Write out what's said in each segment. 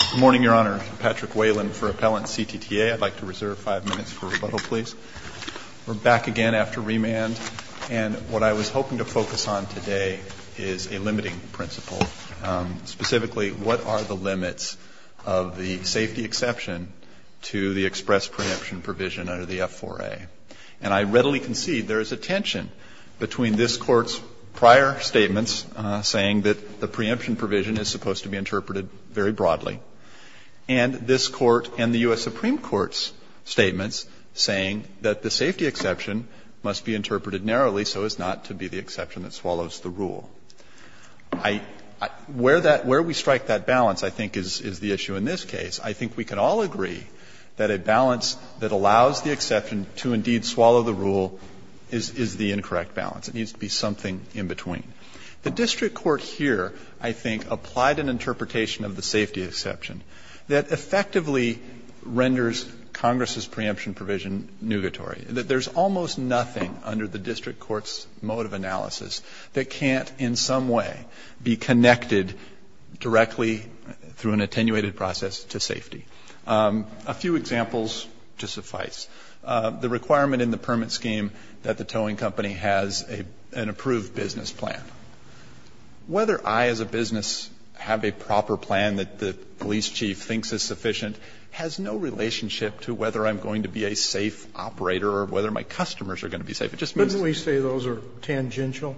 Good morning, Your Honor. I'm Patrick Whelan for Appellant CTTA. I'd like to reserve five minutes for rebuttal, please. We're back again after remand, and what I was hoping to focus on today is a limiting principle, specifically, what are the limits of the safety exception to the express preemption provision under the F-4A? And I readily concede there is a tension between this Court's prior statements saying that the preemption provision is supposed to be interpreted very broadly, and this Court and the U.S. Supreme Court's statements saying that the safety exception must be interpreted narrowly so as not to be the exception that swallows the rule. I — where that — where we strike that balance, I think, is the issue in this case. I think we can all agree that a balance that allows the exception to indeed swallow the rule is the incorrect balance. It needs to be something in between. The district court here, I think, applied an interpretation of the safety exception that effectively renders Congress's preemption provision nugatory, that there's almost nothing under the district court's mode of analysis that can't in some way be connected directly through an attenuated process to safety. A few examples to suffice. The requirement in the permit scheme that the towing company has an approved business plan. Whether I as a business have a proper plan that the police chief thinks is sufficient has no relationship to whether I'm going to be a safe operator or whether my customers are going to be safe. It just means that they are. Sotomayor, wouldn't we say those are tangential?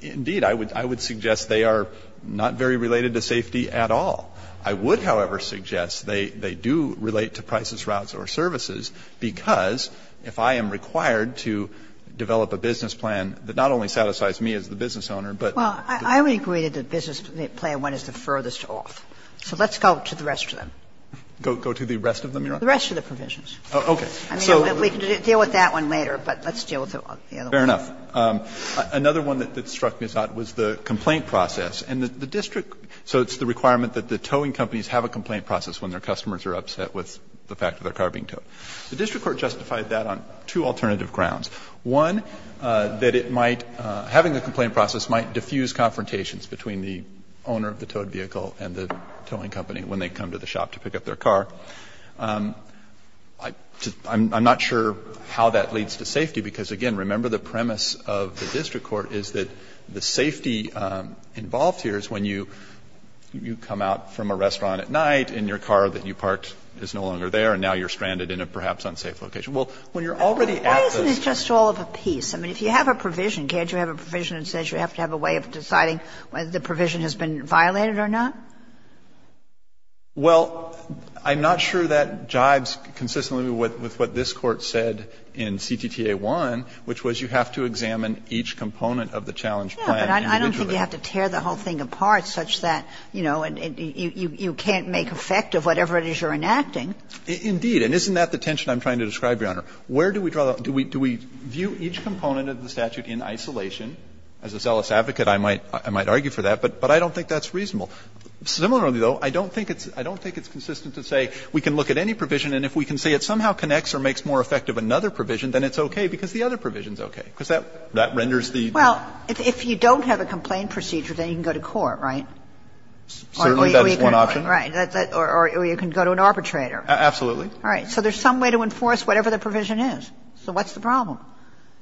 Indeed. I would suggest they are not very related to safety at all. I would, however, suggest they do relate to prices, routes, or services, because if I am required to develop a business plan that not only satisfies me as the business owner, but the business owner. Well, I would agree that the business plan one is the furthest off. So let's go to the rest of them. Go to the rest of them, Your Honor? The rest of the provisions. Okay. I mean, we can deal with that one later, but let's deal with the other ones. Fair enough. Another one that struck me as odd was the complaint process. And the district, so it's the requirement that the towing companies have a complaint process when their customers are upset with the fact that their car being towed. The district court justified that on two alternative grounds. One, that it might, having a complaint process might diffuse confrontations between the owner of the towed vehicle and the towing company when they come to the shop to pick up their car. I'm not sure how that leads to safety, because, again, remember the premise of the district court is that the safety involved here is when you come out from a restaurant at night and your car that you parked is no longer there and now you are stranded in a perhaps unsafe location. Well, when you're already at the staff. Why isn't it just all of a piece? I mean, if you have a provision, can't you have a provision that says you have to have a way of deciding whether the provision has been violated or not? Well, I'm not sure that jives consistently with what this Court said in CTTA 1, which was you have to examine each component of the challenge plan individually. Yes, but I don't think you have to tear the whole thing apart such that, you know, you can't make effect of whatever it is you're enacting. Indeed. And isn't that the tension I'm trying to describe, Your Honor? Where do we draw the – do we view each component of the statute in isolation? As a zealous advocate, I might argue for that, but I don't think that's reasonable. Similarly, though, I don't think it's consistent to say we can look at any provision and if we can say it somehow connects or makes more effective another provision, then it's okay, because the other provision is okay, because that renders the. Well, if you don't have a complaint procedure, then you can go to court, right? Certainly, that is one option. Right. Or you can go to an arbitrator. Absolutely. All right. So there's some way to enforce whatever the provision is. So what's the problem?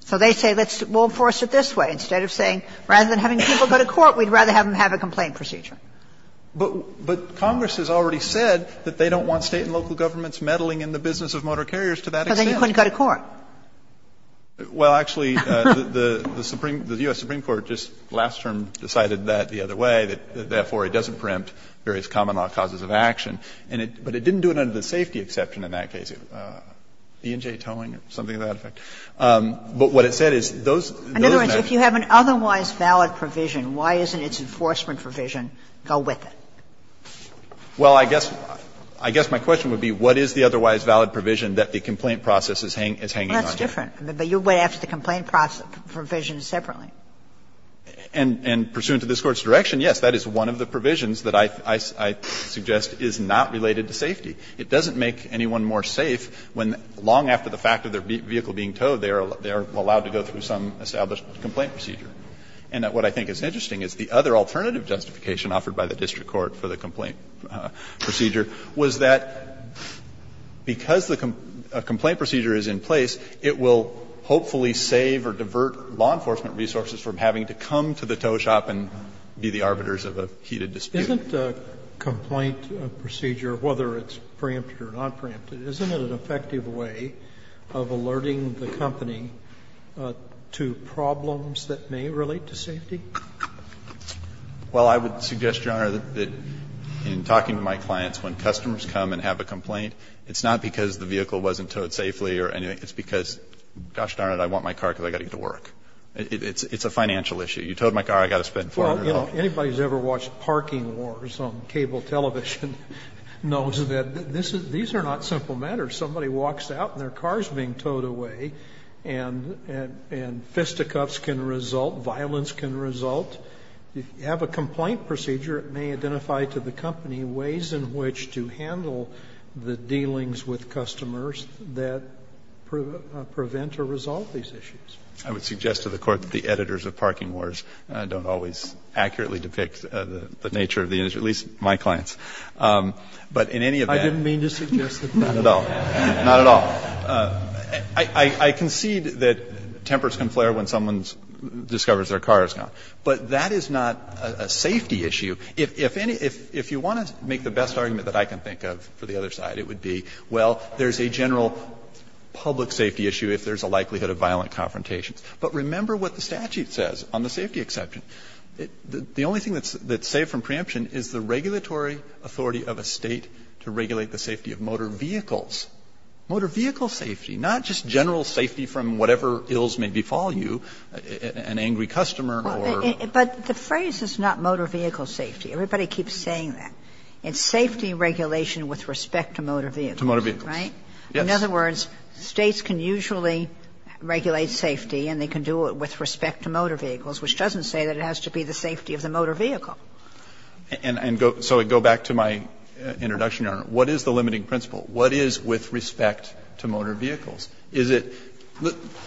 So they say let's – we'll enforce it this way. Instead of saying rather than having people go to court, we'd rather have them have a complaint procedure. But Congress has already said that they don't want State and local governments meddling in the business of motor carriers to that extent. Because then you couldn't go to court. Well, actually, the Supreme – the U.S. Supreme Court just last term decided that the other way, that therefore it doesn't preempt various common law causes of action. And it – but it didn't do it under the safety exception in that case. E&J towing or something to that effect. But what it said is those – those matters. In other words, if you have an otherwise valid provision, why isn't its enforcement provision go with it? Well, I guess – I guess my question would be what is the otherwise valid provision that the complaint process is hanging on to? Well, that's different. But you're going after the complaint provision separately. And pursuant to this Court's direction, yes, that is one of the provisions that I – I suggest is not related to safety. It doesn't make anyone more safe when, long after the fact of their vehicle being towed, they are allowed to go through some established complaint procedure. And what I think is interesting is the other alternative justification offered by the district court for the complaint procedure was that because the complaint procedure is in place, it will hopefully save or divert law enforcement resources from having to come to the tow shop and be the arbiters of a heated dispute. So isn't a complaint procedure, whether it's preempted or not preempted, isn't it an effective way of alerting the company to problems that may relate to safety? Well, I would suggest, Your Honor, that in talking to my clients, when customers come and have a complaint, it's not because the vehicle wasn't towed safely or anything. It's because, gosh darn it, I want my car because I've got to get to work. It's a financial issue. You towed my car, I've got to spend $400. Anybody who's ever watched Parking Wars on cable television knows that these are not simple matters. Somebody walks out and their car is being towed away, and fisticuffs can result, violence can result. If you have a complaint procedure, it may identify to the company ways in which to handle the dealings with customers that prevent or resolve these issues. I would suggest to the Court that the editors of Parking Wars don't always accurately depict the nature of the issue, at least my clients. But in any event. I didn't mean to suggest that. Not at all. Not at all. I concede that tempers can flare when someone discovers their car is gone. But that is not a safety issue. If you want to make the best argument that I can think of for the other side, it would be, well, there's a general public safety issue if there's a likelihood of violent confrontations. But remember what the statute says on the safety exception. The only thing that's saved from preemption is the regulatory authority of a State to regulate the safety of motor vehicles. Motor vehicle safety, not just general safety from whatever ills may befall you, an angry customer or the phrase is not motor vehicle safety. Everybody keeps saying that. It's safety regulation with respect to motor vehicles. Right? In other words, States can usually regulate safety and they can do it with respect to motor vehicles, which doesn't say that it has to be the safety of the motor vehicle. And so I go back to my introduction, Your Honor. What is the limiting principle? What is with respect to motor vehicles? Is it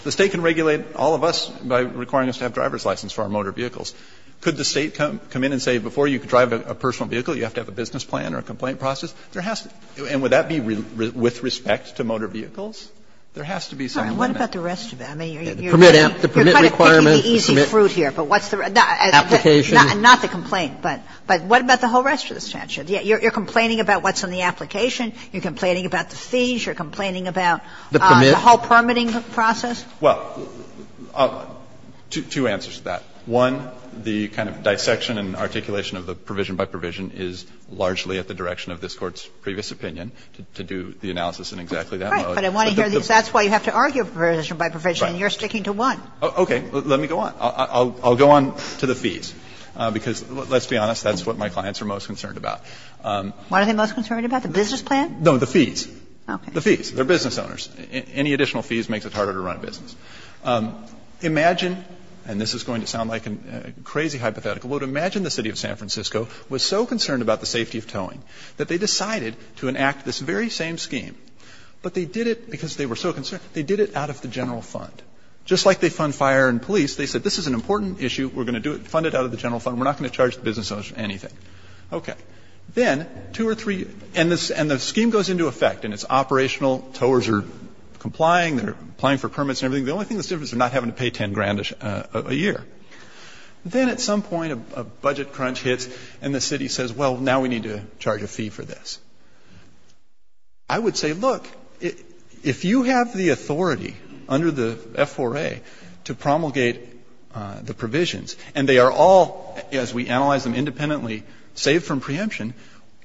the State can regulate all of us by requiring us to have driver's license for our motor vehicles. Could the State come in and say before you can drive a personal vehicle, you have to have a business plan or a complaint process? There has to be, and would that be with respect to motor vehicles? There has to be some limit. Sotomayor, you're kind of picking the easy fruit here, but what's the, not the complaint. But what about the whole rest of the statute? You're complaining about what's in the application. You're complaining about the fees. You're complaining about the whole permitting process. Well, two answers to that. One, the kind of dissection and articulation of the provision by provision is largely at the direction of this Court's previous opinion to do the analysis in exactly that mode. But I want to hear this. That's why you have to argue provision by provision, and you're sticking to one. Okay. Let me go on. I'll go on to the fees, because let's be honest, that's what my clients are most concerned about. What are they most concerned about, the business plan? No, the fees. Okay. The fees. They're business owners. Any additional fees makes it harder to run a business. Imagine, and this is going to sound like a crazy hypothetical, but imagine the City of San Francisco was so concerned about the safety of towing that they decided to enact this very same scheme, but they did it because they were so concerned, they did it out of the general fund. Just like they fund fire and police, they said this is an important issue, we're going to fund it out of the general fund, we're not going to charge the business owners anything. Okay. Then, two or three years, and the scheme goes into effect, and it's operational, towers are complying, they're applying for permits and everything. The only thing that's different is they're not having to pay $10,000 a year. Then at some point, a budget crunch hits and the city says, well, now we need to charge a fee for this. I would say, look, if you have the authority under the F4A to promulgate the provisions and they are all, as we analyze them independently, saved from preemption,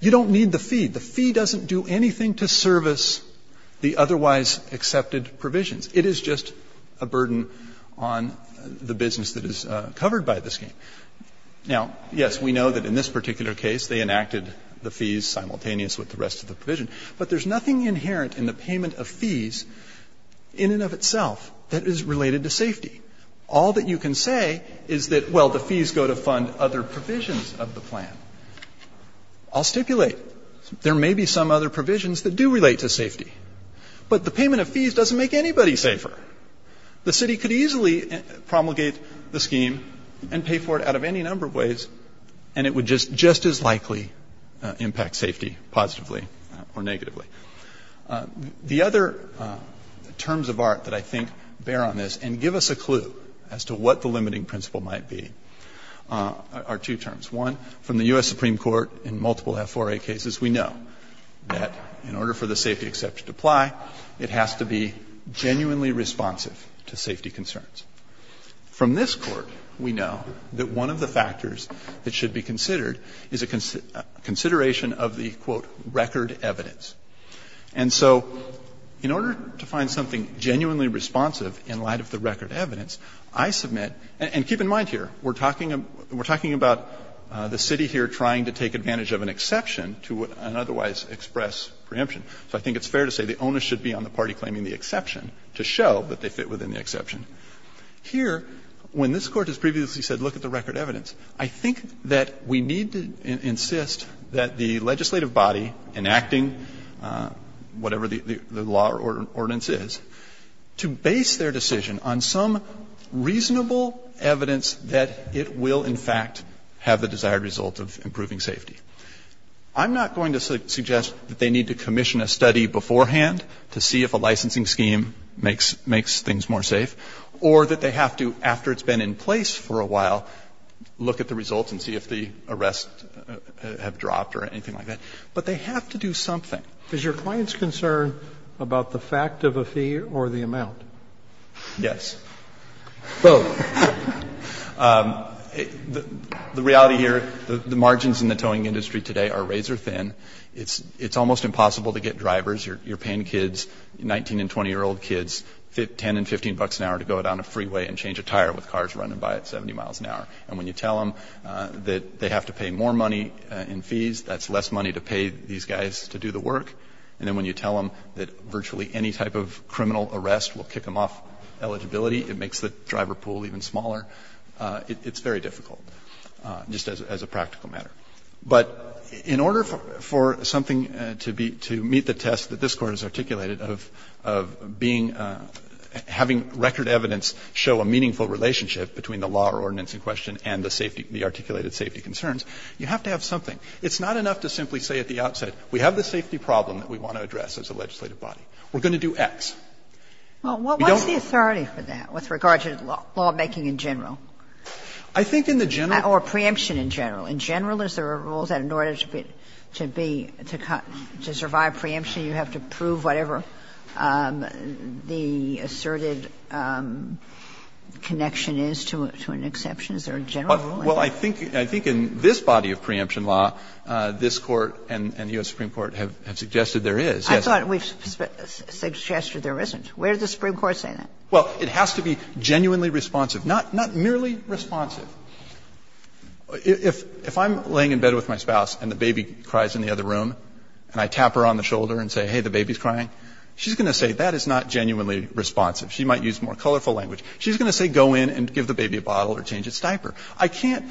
you don't need the fee. The fee doesn't do anything to service the otherwise accepted provisions. It is just a burden on the business that is covered by this scheme. Now, yes, we know that in this particular case, they enacted the fees simultaneous with the rest of the provision, but there's nothing inherent in the payment of fees in and of itself that is related to safety. All that you can say is that, well, the fees go to fund other provisions of the plan. I'll stipulate, there may be some other provisions that do relate to safety, but the The city could easily promulgate the scheme and pay for it out of any number of ways and it would just as likely impact safety positively or negatively. The other terms of art that I think bear on this and give us a clue as to what the limiting principle might be are two terms. One, from the U.S. Supreme Court in multiple F4A cases, we know that in order for the safety exception to apply, it has to be genuinely responsive to safety concerns. From this Court, we know that one of the factors that should be considered is a consideration of the, quote, record evidence. And so in order to find something genuinely responsive in light of the record evidence, I submit, and keep in mind here, we're talking about the city here trying to take So I think it's fair to say the onus should be on the party claiming the exception to show that they fit within the exception. Here, when this Court has previously said, look at the record evidence, I think that we need to insist that the legislative body enacting whatever the law or ordinance is, to base their decision on some reasonable evidence that it will, in fact, have the desired result of improving safety. I'm not going to suggest that they need to commission a study beforehand to see if a licensing scheme makes things more safe, or that they have to, after it's been in place for a while, look at the results and see if the arrests have dropped or anything like that. But they have to do something. Roberts, is your client's concern about the fact of a fee or the amount? Yes. Both. The reality here, the margins in the towing industry today are razor thin. It's almost impossible to get drivers, your paying kids, 19 and 20-year-old kids, $10 and $15 an hour to go down a freeway and change a tire with cars running by at 70 miles an hour. And when you tell them that they have to pay more money in fees, that's less money to pay these guys to do the work. And then when you tell them that virtually any type of criminal arrest will kick them off eligibility, it makes the driver pool even smaller, it's very difficult, just as a practical matter. But in order for something to be to meet the test that this Court has articulated of being, having record evidence show a meaningful relationship between the law or ordinance in question and the safety, the articulated safety concerns, you have to have something. It's not enough to simply say at the outset, we have the safety problem that we want to address as a legislative body. We're going to do X. Well, what's the authority for that with regard to lawmaking in general? I think in the general. Or preemption in general. In general, is there a rule that in order to be, to survive preemption, you have to prove whatever the asserted connection is to an exception? Is there a general rule? Well, I think in this body of preemption law, this Court and U.S. Supreme Court have suggested there is. I thought we've suggested there isn't. Where does the Supreme Court say that? Well, it has to be genuinely responsive, not merely responsive. If I'm laying in bed with my spouse and the baby cries in the other room and I tap her on the shoulder and say, hey, the baby's crying, she's going to say that is not genuinely responsive. She might use more colorful language. She's going to say go in and give the baby a bottle or change its diaper. I can't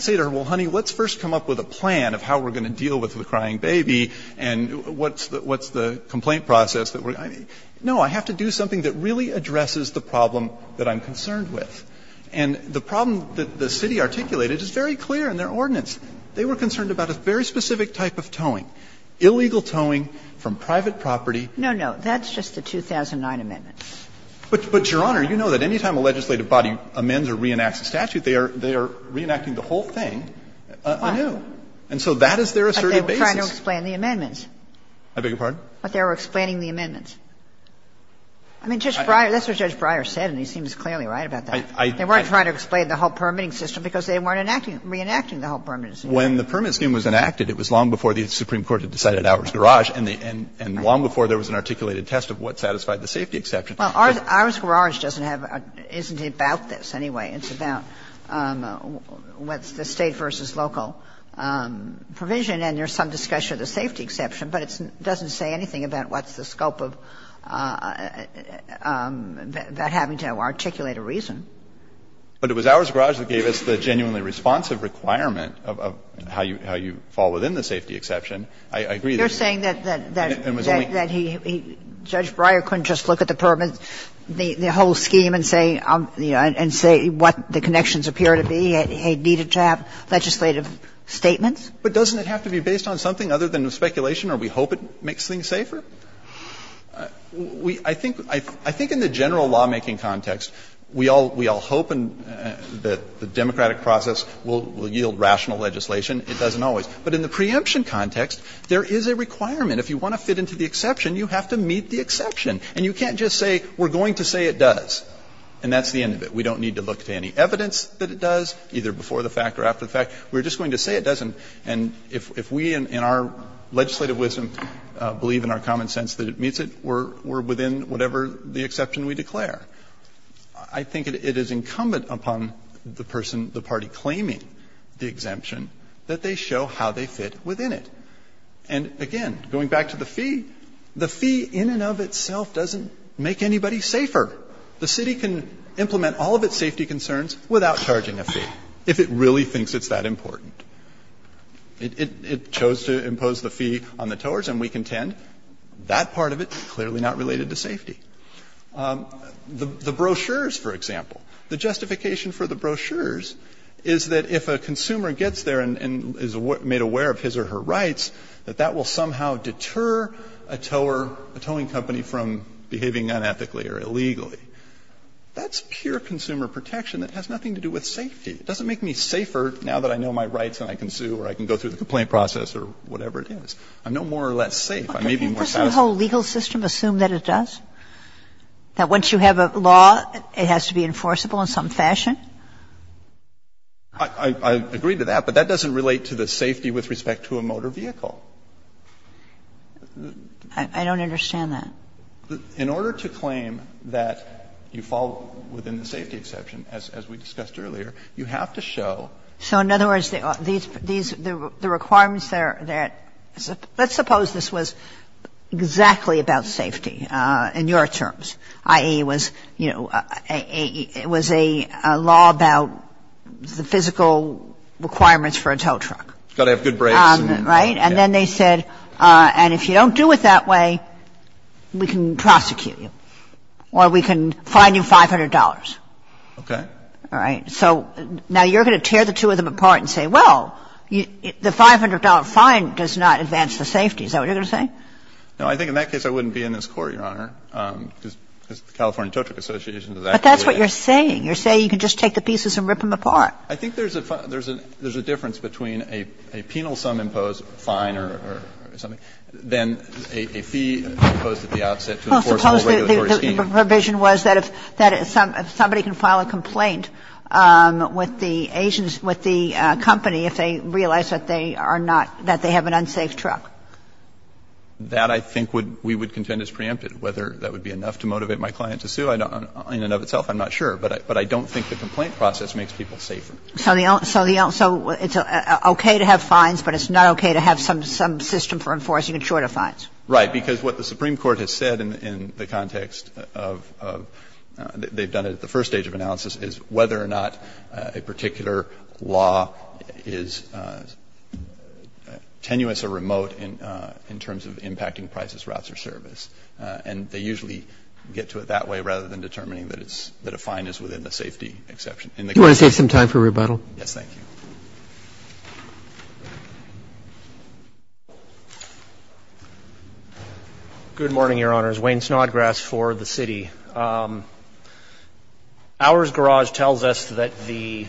say to her, well, honey, let's first come up with a plan of how we're going to deal with the crying baby and what's the complaint process that we're going to do. No, I have to do something that really addresses the problem that I'm concerned with. And the problem that the city articulated is very clear in their ordinance. They were concerned about a very specific type of towing, illegal towing from private property. No, no, that's just the 2009 amendment. But, Your Honor, you know that any time a legislative body amends or reenacts a statute, they are reenacting the whole thing anew. And so that is their assertive basis. But they were trying to explain the amendments. I beg your pardon? But they were explaining the amendments. I mean, Judge Breyer, that's what Judge Breyer said, and he seems clearly right about that. They weren't trying to explain the whole permitting system because they weren't enacting, reenacting the whole permitting system. When the permit scheme was enacted, it was long before the Supreme Court had decided ours garage, and long before there was an articulated test of what satisfied the safety exception. Well, ours garage doesn't have an – isn't about this anyway. It's about what's the State versus local provision, and there's some discussion of the safety exception, but it doesn't say anything about what's the scope of that having to articulate a reason. But it was ours garage that gave us the genuinely responsive requirement of how you fall within the safety exception. I agree that it was only – You're saying that Judge Breyer couldn't just look at the permit, the whole scheme and say, you know, and say what the connections appear to be, it needed to have legislative statements? But doesn't it have to be based on something other than speculation, or we hope it makes things safer? We – I think – I think in the general lawmaking context, we all – we all hope that the democratic process will yield rational legislation. It doesn't always. But in the preemption context, there is a requirement. If you want to fit into the exception, you have to meet the exception. And you can't just say, we're going to say it does. And that's the end of it. We don't need to look to any evidence that it does, either before the fact or after the fact. We're just going to say it doesn't. And if we in our legislative wisdom believe in our common sense that it meets it, we're within whatever the exception we declare. I think it is incumbent upon the person, the party claiming the exemption, that they show how they fit within it. And again, going back to the fee, the fee in and of itself doesn't make anybody safer. The city can implement all of its safety concerns without charging a fee, if it really thinks it's that important. It chose to impose the fee on the towers, and we contend that part of it is clearly not related to safety. The brochures, for example, the justification for the brochures is that if a consumer gets there and is made aware of his or her rights, that that will somehow deter a tower or a towing company from behaving unethically or illegally. That's pure consumer protection that has nothing to do with safety. It doesn't make me safer now that I know my rights and I can sue or I can go through the complaint process or whatever it is. I'm no more or less safe. I may be more satisfied. Sotomayor on the whole legal system assume that it does? That once you have a law, it has to be enforceable in some fashion? I agree to that, but that doesn't relate to the safety with respect to a motor vehicle. I don't understand that. In order to claim that you fall within the safety exception, as we discussed earlier, you have to show. So in other words, the requirements there, let's suppose this was exactly about safety in your terms, i.e., was, you know, it was a law about the physical requirements for a tow truck. Got to have good brakes. Right? And then they said, and if you don't do it that way, we can prosecute you or we can fine you $500. Okay. All right. So now you're going to tear the two of them apart and say, well, the $500 fine does not advance the safety. Is that what you're going to say? No. I think in that case, I wouldn't be in this Court, Your Honor, because the California Tow Truck Association does that. But that's what you're saying. You're saying you can just take the pieces and rip them apart. I think there's a difference between a penal sum imposed, fine or something, than a fee imposed at the outset to enforce the whole regulatory scheme. Well, suppose the provision was that if somebody can file a complaint with the agents with the company if they realize that they are not, that they have an unsafe truck. That, I think, we would contend is preempted. Whether that would be enough to motivate my client to sue, in and of itself, I'm not sure. But I don't think the complaint process makes people safer. So the other one, so it's okay to have fines, but it's not okay to have some system for enforcing a chord of fines. Right. Because what the Supreme Court has said in the context of they've done it at the first stage of analysis is whether or not a particular law is tenuous or remote in terms of impacting prices, routes or service. And they usually get to it that way rather than determining that it's, that a fine is within the safety exception. In the case of the company. Do you want to take some time for rebuttal? Yes, thank you. Good morning, Your Honors. Wayne Snodgrass for the city. Ours garage tells us that the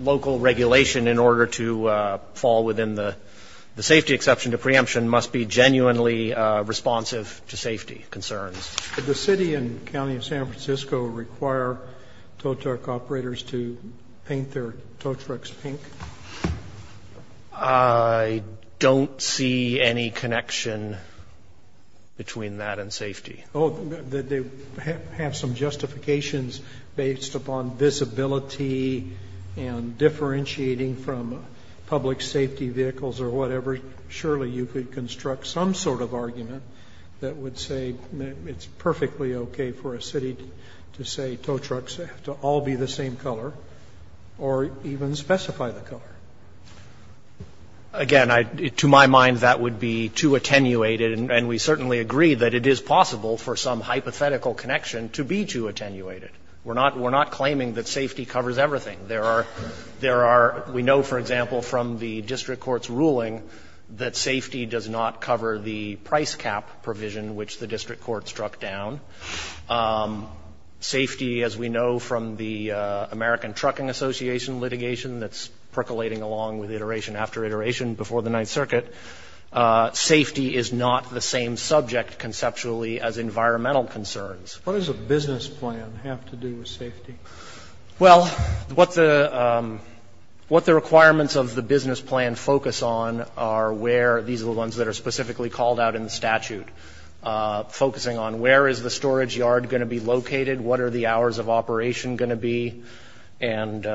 local regulation in order to fall within the safety exception to preemption must be genuinely responsive to safety concerns. Did the city and county of San Francisco require tow truck operators to paint their tow trucks pink? I don't see any connection between that and safety. Oh, did they have some justifications based upon visibility and differentiating from public safety vehicles or whatever? Surely you could construct some sort of argument that would say it's perfectly okay for a city to say tow trucks have to all be the same color or even specify the color. Again, to my mind, that would be too attenuated, and we certainly agree that it is possible for some hypothetical connection to be too attenuated. We're not claiming that safety covers everything. There are we know, for example, from the district court's ruling that safety does not cover the price cap provision which the district court struck down. Safety, as we know from the American Trucking Association litigation that's percolating along with iteration after iteration before the Ninth Circuit, safety is not the same subject conceptually as environmental concerns. What does a business plan have to do with safety? Well, what the requirements of the business plan focus on are where, these are the ones that are specifically called out in the statute, focusing on where is the storage yard going to be located, what are the hours of operation going to be, and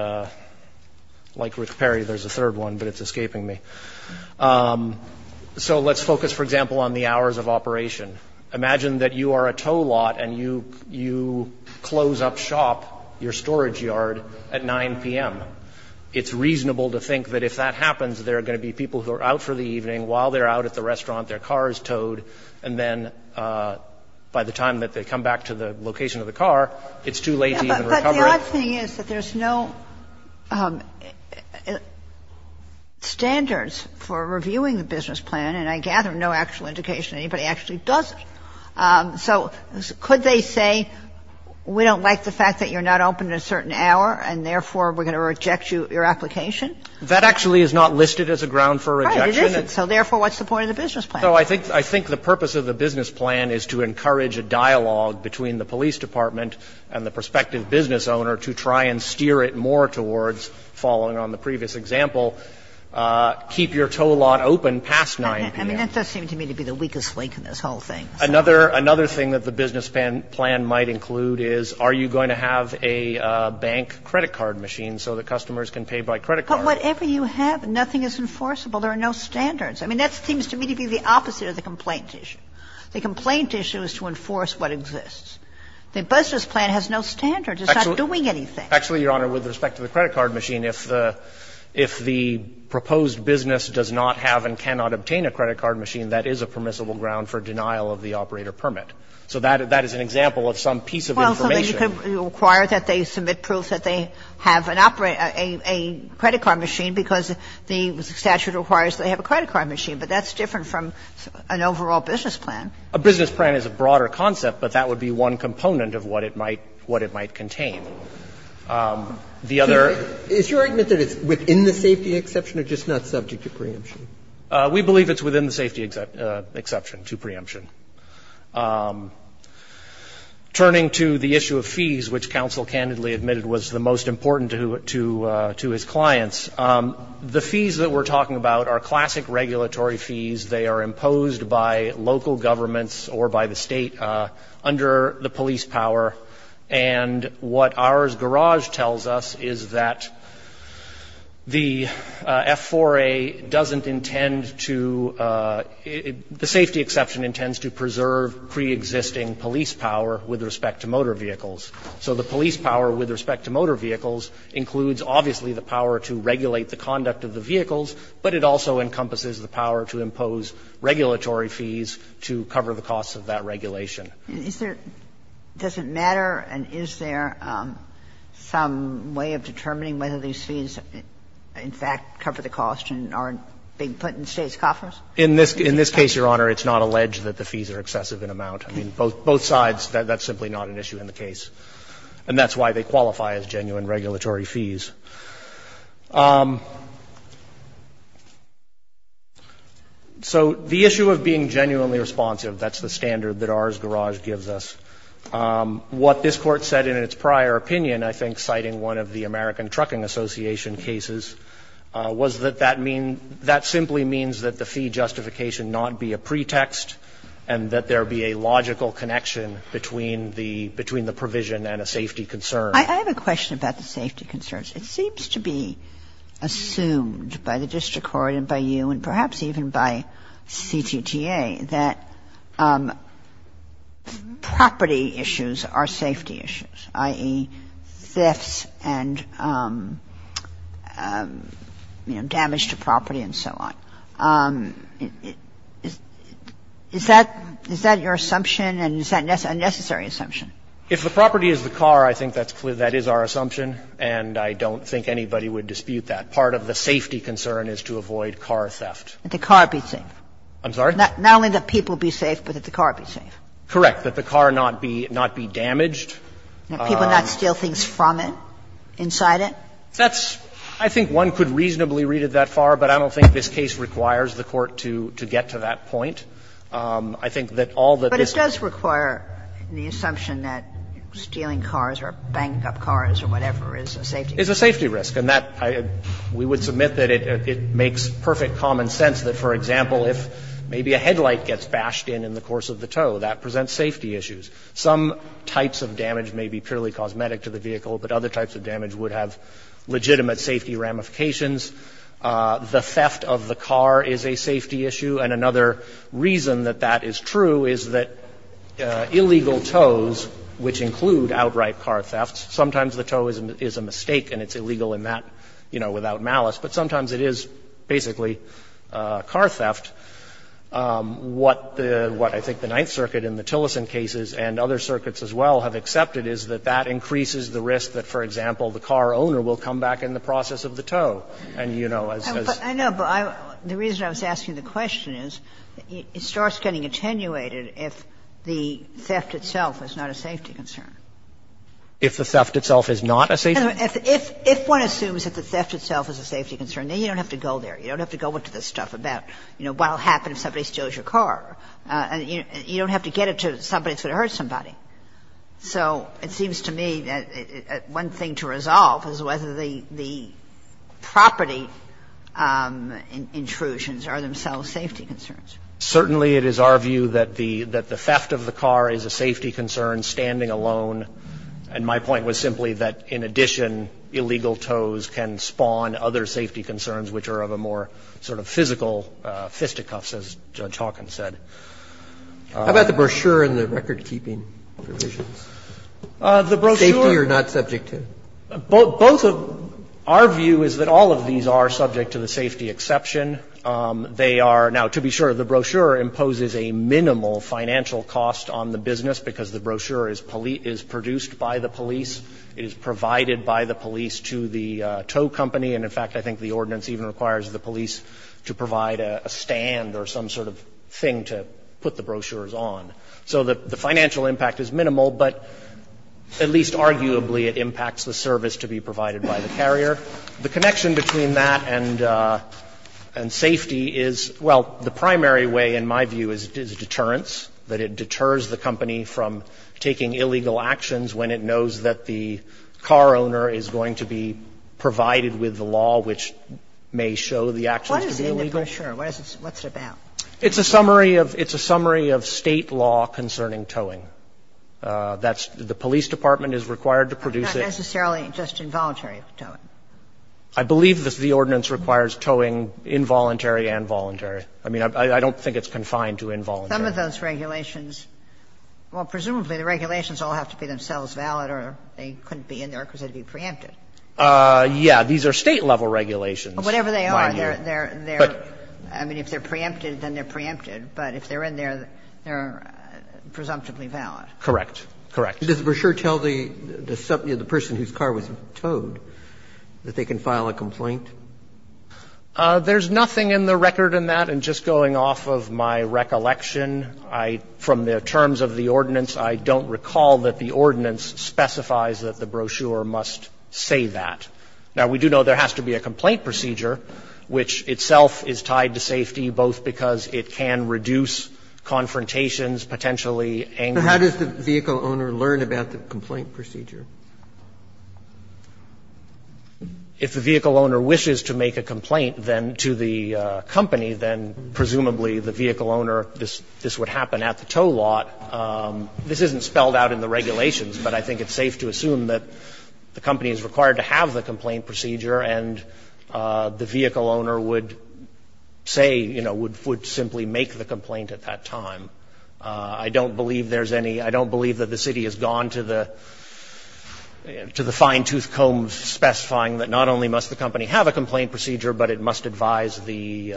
like Rick Perry, there's a third one, but it's escaping me. So let's focus, for example, on the hours of operation. Imagine that you are a tow lot and you close up shop, your storage yard, at 9 p.m. It's reasonable to think that if that happens, there are going to be people who are out for the evening. While they're out at the restaurant, their car is towed, and then by the time that they come back to the location of the car, it's too late to even recover it. But the odd thing is that there's no standards for reviewing the business plan, and I gather no actual indication anybody actually does it. So could they say, we don't like the fact that you're not open at a certain hour, and therefore we're going to reject your application? That actually is not listed as a ground for rejection. Right, it isn't. So therefore, what's the point of the business plan? So I think the purpose of the business plan is to encourage a dialogue between the police department and the prospective business owner to try and steer it more I mean, that does seem to me to be the weakest link in this whole thing. Another thing that the business plan might include is, are you going to have a bank credit card machine so that customers can pay by credit card? But whatever you have, nothing is enforceable. There are no standards. I mean, that seems to me to be the opposite of the complaint issue. The complaint issue is to enforce what exists. The business plan has no standards. It's not doing anything. Actually, Your Honor, with respect to the credit card machine, if the proposed business does not have and cannot obtain a credit card machine, that is a permissible ground for denial of the operator permit. So that is an example of some piece of information. Well, so they could require that they submit proof that they have an operator or a credit card machine because the statute requires they have a credit card machine, but that's different from an overall business plan. A business plan is a broader concept, but that would be one component of what it might contain. And I'm not going to go into the details of that, Your Honor, but I'm going to say that it's not subject to preemption. We believe it's within the safety exception to preemption. Turning to the issue of fees, which counsel candidly admitted was the most important to his clients, the fees that we're talking about are classic regulatory fees. They are imposed by local governments or by the state under the police power, and what ours garage tells us is that the F4A doesn't intend to, the safety exception intends to preserve preexisting police power with respect to motor vehicles, so the police power with respect to motor vehicles includes obviously the power to regulate the conduct of the vehicles, but it also encompasses the power to impose regulatory fees to cover the costs of that regulation. And is there, does it matter, and is there some way of determining whether these fees, in fact, cover the cost and aren't being put in States' coffers? In this case, Your Honor, it's not alleged that the fees are excessive in amount. I mean, both sides, that's simply not an issue in the case, and that's why they qualify as genuine regulatory fees. So the issue of being genuinely responsive, that's the standard that ours garage gives us. What this Court said in its prior opinion, I think, citing one of the American Trucking Association cases, was that that mean, that simply means that the fee justification not be a pretext and that there be a logical connection between the provision and a safety concern. Kagan. I have a question about the safety concerns. It seems to be assumed by the district court and by you and perhaps even by CTTA that property issues are safety issues, i.e., thefts and, you know, damage to property and so on. Is that your assumption, and is that a necessary assumption? If the property is the car, I think that's clear. That is our assumption, and I don't think anybody would dispute that. Part of the safety concern is to avoid car theft. That the car be safe. I'm sorry? Not only that people be safe, but that the car be safe. Correct. That the car not be damaged. That people not steal things from it, inside it. That's – I think one could reasonably read it that far, but I don't think this case requires the Court to get to that point. I think that all that this Court said in its prior opinion is that there be a logical reason that stealing cars or banging up cars or whatever is a safety risk. It's a safety risk, and that – we would submit that it makes perfect common sense that, for example, if maybe a headlight gets bashed in in the course of the tow, that presents safety issues. Some types of damage may be purely cosmetic to the vehicle, but other types of damage would have legitimate safety ramifications. The theft of the car is a safety issue, and another reason that that is true is that illegal tows, which include outright car thefts, sometimes the tow is a mistake and it's illegal in that, you know, without malice, but sometimes it is basically a car theft. What the – what I think the Ninth Circuit in the Tillerson cases and other circuits as well have accepted is that that increases the risk that, for example, the car owner will come back in the process of the tow. And, you know, as – I know, but I – the reason I was asking the question is it starts getting attenuated if the theft itself is not a safety concern. If the theft itself is not a safety concern? If one assumes that the theft itself is a safety concern, then you don't have to go there. You don't have to go into this stuff about, you know, what will happen if somebody steals your car. You don't have to get it to somebody that's going to hurt somebody. So it seems to me that one thing to resolve is whether the property intrusions are themselves safety concerns. Certainly it is our view that the – that the theft of the car is a safety concern standing alone. And my point was simply that, in addition, illegal tows can spawn other safety concerns which are of a more sort of physical fisticuffs, as Judge Hawkins said. How about the brochure and the recordkeeping provisions? The brochure – Safety or not subject to? Both of – our view is that all of these are subject to the safety exception. They are – now, to be sure, the brochure imposes a minimal financial cost on the business because the brochure is produced by the police. It is provided by the police to the tow company. And, in fact, I think the ordinance even requires the police to provide a stand or some sort of thing to put the brochures on. So the financial impact is minimal, but at least arguably it impacts the service to be provided by the carrier. The connection between that and safety is – well, the primary way, in my view, is deterrence, that it deters the company from taking illegal actions when it knows that the car owner is going to be provided with the law which may show the actions to be illegal. What is it in the brochure? What is it about? It's a summary of – it's a summary of State law concerning towing. That's – the police department is required to produce it. Not necessarily just involuntary towing. I believe the ordinance requires towing involuntary and voluntary. I mean, I don't think it's confined to involuntary. Some of those regulations – well, presumably the regulations all have to be themselves valid or they couldn't be in there because they'd be preempted. Yeah. These are State-level regulations. Whatever they are, they're – I mean, if they're preempted, then they're preempted. But if they're in there, they're presumptively valid. Correct. Correct. So does the brochure tell the person whose car was towed that they can file a complaint? There's nothing in the record in that. And just going off of my recollection, I – from the terms of the ordinance, I don't recall that the ordinance specifies that the brochure must say that. Now, we do know there has to be a complaint procedure, which itself is tied to safety, both because it can reduce confrontations, potentially anger. So how does the vehicle owner learn about the complaint procedure? If the vehicle owner wishes to make a complaint, then, to the company, then presumably the vehicle owner, this would happen at the tow lot. This isn't spelled out in the regulations, but I think it's safe to assume that the company is required to have the complaint procedure and the vehicle owner would say, you know, would simply make the complaint at that time. I don't believe there's any – I don't believe that the city has gone to the fine-tooth comb specifying that not only must the company have a complaint procedure, but it must advise the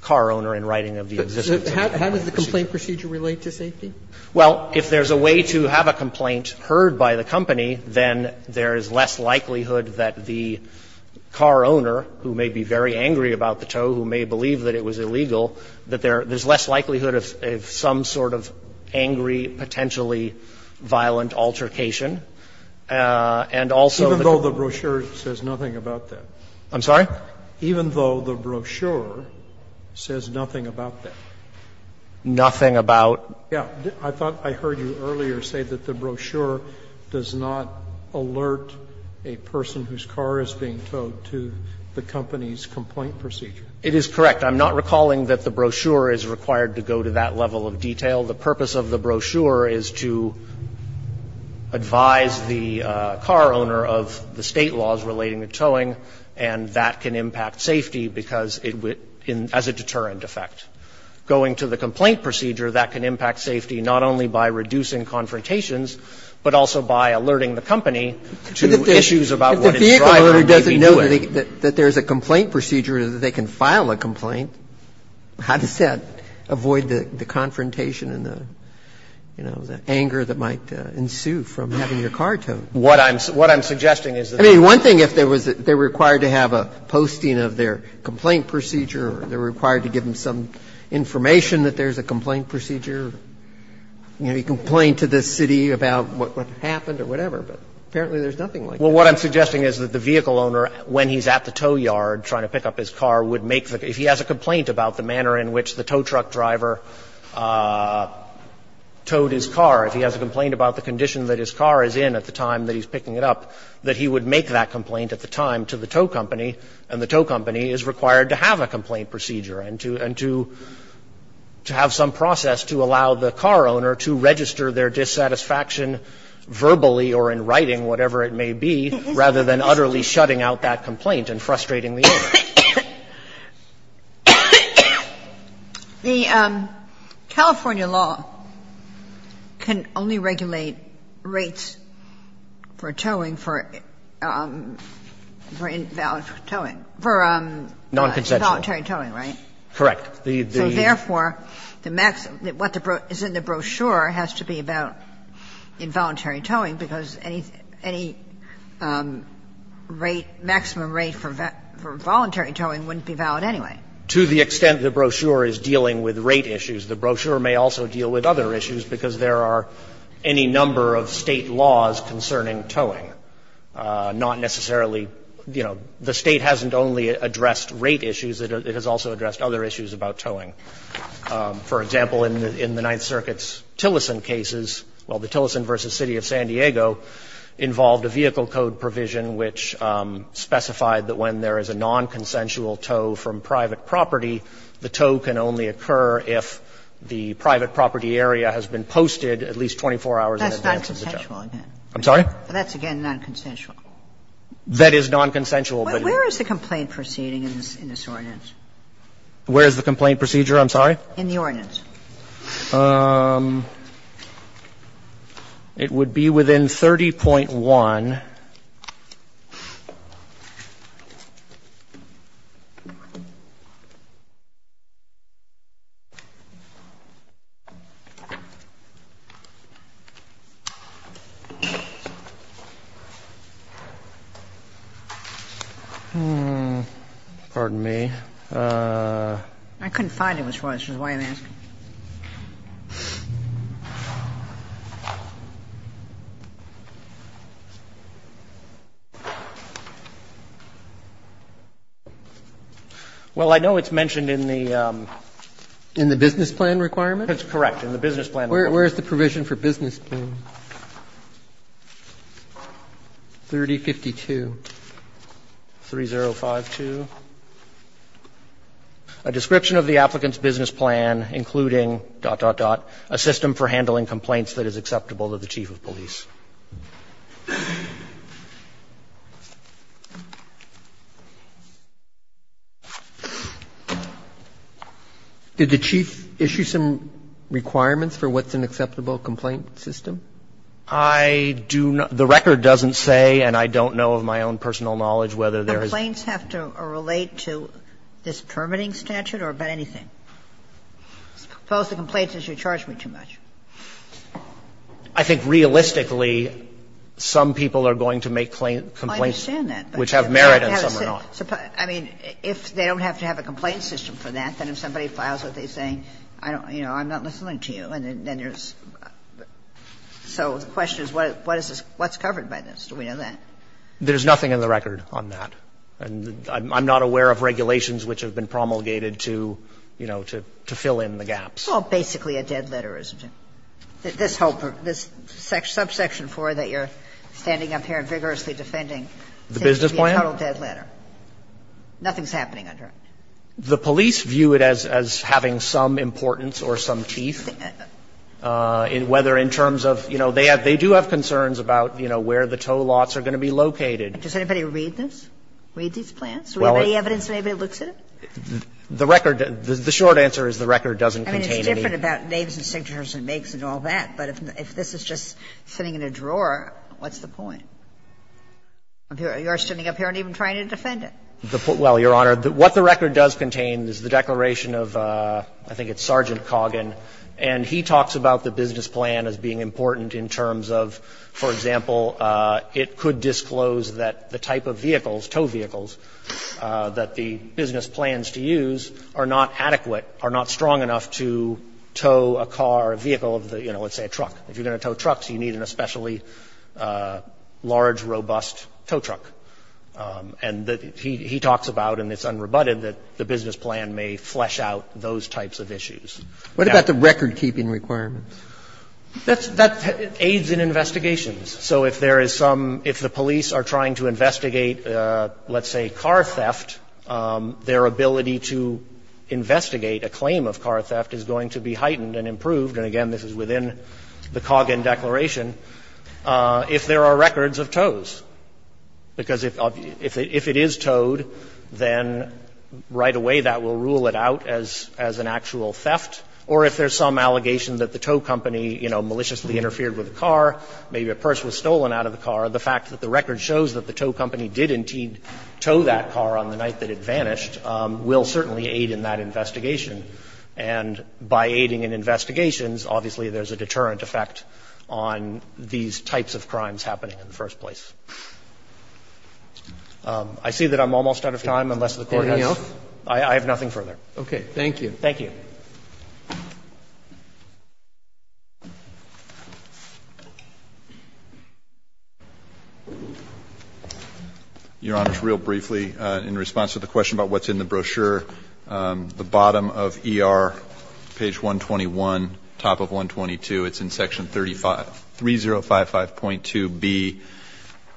car owner in writing of the existence of the complaint procedure. How does the complaint procedure relate to safety? Well, if there's a way to have a complaint heard by the company, then there is less likelihood that the car owner, who may be very angry about the tow, who may believe that it was illegal, that there's less likelihood of some sort of angry, potentially violent altercation. And also the – Even though the brochure says nothing about that? I'm sorry? Even though the brochure says nothing about that? Nothing about? Yes. I thought I heard you earlier say that the brochure does not alert a person whose car is being towed to the company's complaint procedure. It is correct. I'm not recalling that the brochure is required to go to that level of detail. The purpose of the brochure is to advise the car owner of the State laws relating to towing, and that can impact safety because it would – as a deterrent effect. Going to the complaint procedure, that can impact safety not only by reducing confrontations, but also by alerting the company to issues about what its driver may be doing. So you're saying that there's a complaint procedure, that they can file a complaint. How does that avoid the confrontation and the, you know, the anger that might ensue from having your car towed? What I'm – what I'm suggesting is that they're required to have a posting of their complaint procedure, or they're required to give them some information that there's a complaint procedure. You know, you complain to the city about what happened or whatever, but apparently there's nothing like that. Well, what I'm suggesting is that the vehicle owner, when he's at the tow yard trying to pick up his car, would make the – if he has a complaint about the manner in which the tow truck driver towed his car, if he has a complaint about the condition that his car is in at the time that he's picking it up, that he would make that complaint at the time to the tow company, and the tow company is required to have a complaint procedure, and to – and to have some process to allow the car owner to register their dissatisfaction verbally or in writing, whatever it may be, to make rather than utterly shutting out that complaint and frustrating the owner. The California law can only regulate rates for towing for – for invalid towing – for involuntary towing, right? Correct. So therefore, the maximum – what is in the brochure has to be about involuntary towing, because any rate – maximum rate for voluntary towing wouldn't be valid anyway. To the extent the brochure is dealing with rate issues, the brochure may also deal with other issues, because there are any number of State laws concerning towing, not necessarily – you know, the State hasn't only addressed rate issues. It has also addressed other issues about towing. For example, in the Ninth Circuit's Tillerson cases – well, the Tillerson v. City of San Diego involved a vehicle code provision which specified that when there is a nonconsensual tow from private property, the tow can only occur if the private property area has been posted at least 24 hours in advance as a judge. That's nonconsensual again. I'm sorry? That's, again, nonconsensual. That is nonconsensual, but it's – Well, where is the complaint proceeding in this ordinance? Where is the complaint procedure? I'm sorry? In the ordinance. It would be within 30.1. Pardon me. I couldn't find it, which is why I'm asking. Well, I know it's mentioned in the business plan requirement. That's correct, in the business plan requirement. Where is the provision for business plan? 3052. 3052. A description of the applicant's business plan, including, dot, dot, dot, a system for handling complaints that is acceptable to the chief of police. Did the chief issue some requirements for what's an acceptable complaint system? I do not – the record doesn't say, and I don't know of my own personal knowledge whether there is a – Do complaints have to relate to this permitting statute or about anything? Suppose the complaint says you charge me too much. I think realistically, some people are going to make complaints. I understand that. Which have merit and some are not. I mean, if they don't have to have a complaint system for that, then if somebody files with it saying, you know, I'm not listening to you, then there's – so the question is what is this – what's covered by this? Do we know that? There's nothing in the record on that. And I'm not aware of regulations which have been promulgated to, you know, to fill in the gaps. It's all basically a dead letter, isn't it? This whole – this subsection 4 that you're standing up here and vigorously defending seems to be a total dead letter. The business plan? Nothing's happening under it. The police view it as having some importance or some teeth, whether in terms of – you know, they have – they do have concerns about, you know, where the tow lots are going to be located. Does anybody read this? Read these plans? Do we have any evidence that anybody looks at it? The record – the short answer is the record doesn't contain anything. I mean, it's different about names and signatures and makes and all that. But if this is just sitting in a drawer, what's the point? You're standing up here and even trying to defend it. Well, Your Honor, what the record does contain is the declaration of, I think it's Sergeant Coggin, and he talks about the business plan as being important in terms of, for example, it could disclose that the type of vehicles, tow vehicles, that the business plans to use are not adequate, are not strong enough to tow a car or vehicle of the – you know, let's say a truck. If you're going to tow trucks, you need an especially large, robust tow truck. And he talks about, and it's unrebutted, that the business plan may flesh out those types of issues. What about the recordkeeping requirements? That's – that aids in investigations. So if there is some – if the police are trying to investigate, let's say, car theft, their ability to investigate a claim of car theft is going to be heightened and improved – and again, this is within the Coggin declaration – if there are records of tows. Because if it is towed, then right away that will rule it out as an actual theft. Or if there's some allegation that the tow company, you know, maliciously interfered with a car, maybe a purse was stolen out of the car, the fact that the record shows that the tow company did indeed tow that car on the night that it vanished will certainly aid in that investigation. And by aiding in investigations, obviously, there's a deterrent effect on these types of crimes happening in the first place. I see that I'm almost out of time, unless the Court has anything else. I have nothing further. Roberts. Thank you. Thank you. Your Honor, just real briefly, in response to the question about what's in the brochure, the bottom of ER, page 121, top of 122, it's in section 3055.2b,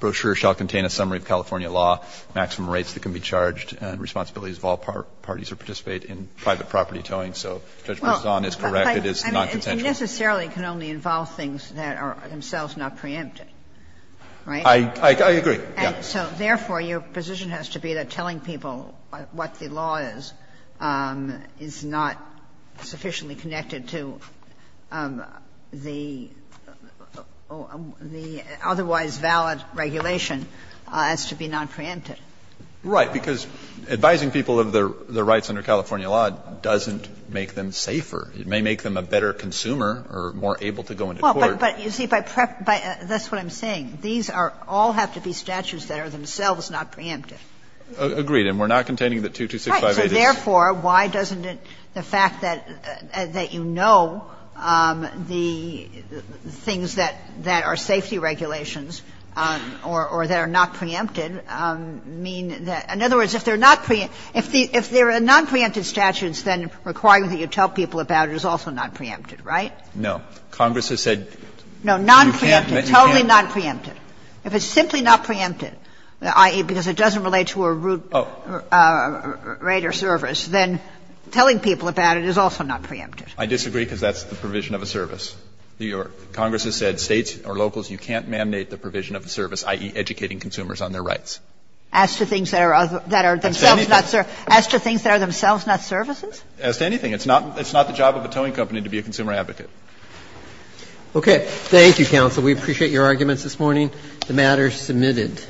brochure shall contain a summary of California law, maximum rates that can be charged, and responsibilities of all parties who participate in private property towing. So Judge Marzan is correct, it is nonconsensual. I mean, it necessarily can only involve things that are themselves not preempted. Right? I agree, yes. So therefore, your position has to be that telling people what the law is is not sufficiently connected to the otherwise valid regulation as to be nonpreempted. Right, because advising people of their rights under California law doesn't make them safer. It may make them a better consumer or more able to go into court. Well, but you see, that's what I'm saying. These are all have to be statutes that are themselves not preempted. Agreed. And we're not containing the 22658. Right. So therefore, why doesn't the fact that you know the things that are safety regulations or that are not preempted mean that – in other words, if they're not preempted – if they're nonpreempted statutes, then requiring that you tell people about it is also nonpreempted, right? No. Congress has said you can't. No, nonpreempted, totally nonpreempted. If it's simply not preempted, i.e., because it doesn't relate to a rate or service, then telling people about it is also not preempted. I disagree, because that's the provision of a service. Congress has said States or locals, you can't mandate the provision of a service, i.e., educating consumers on their rights. As to things that are themselves not – as to things that are themselves not services? As to anything. It's not the job of a towing company to be a consumer advocate. Okay. Thank you, counsel. We appreciate your arguments this morning. The matter is submitted.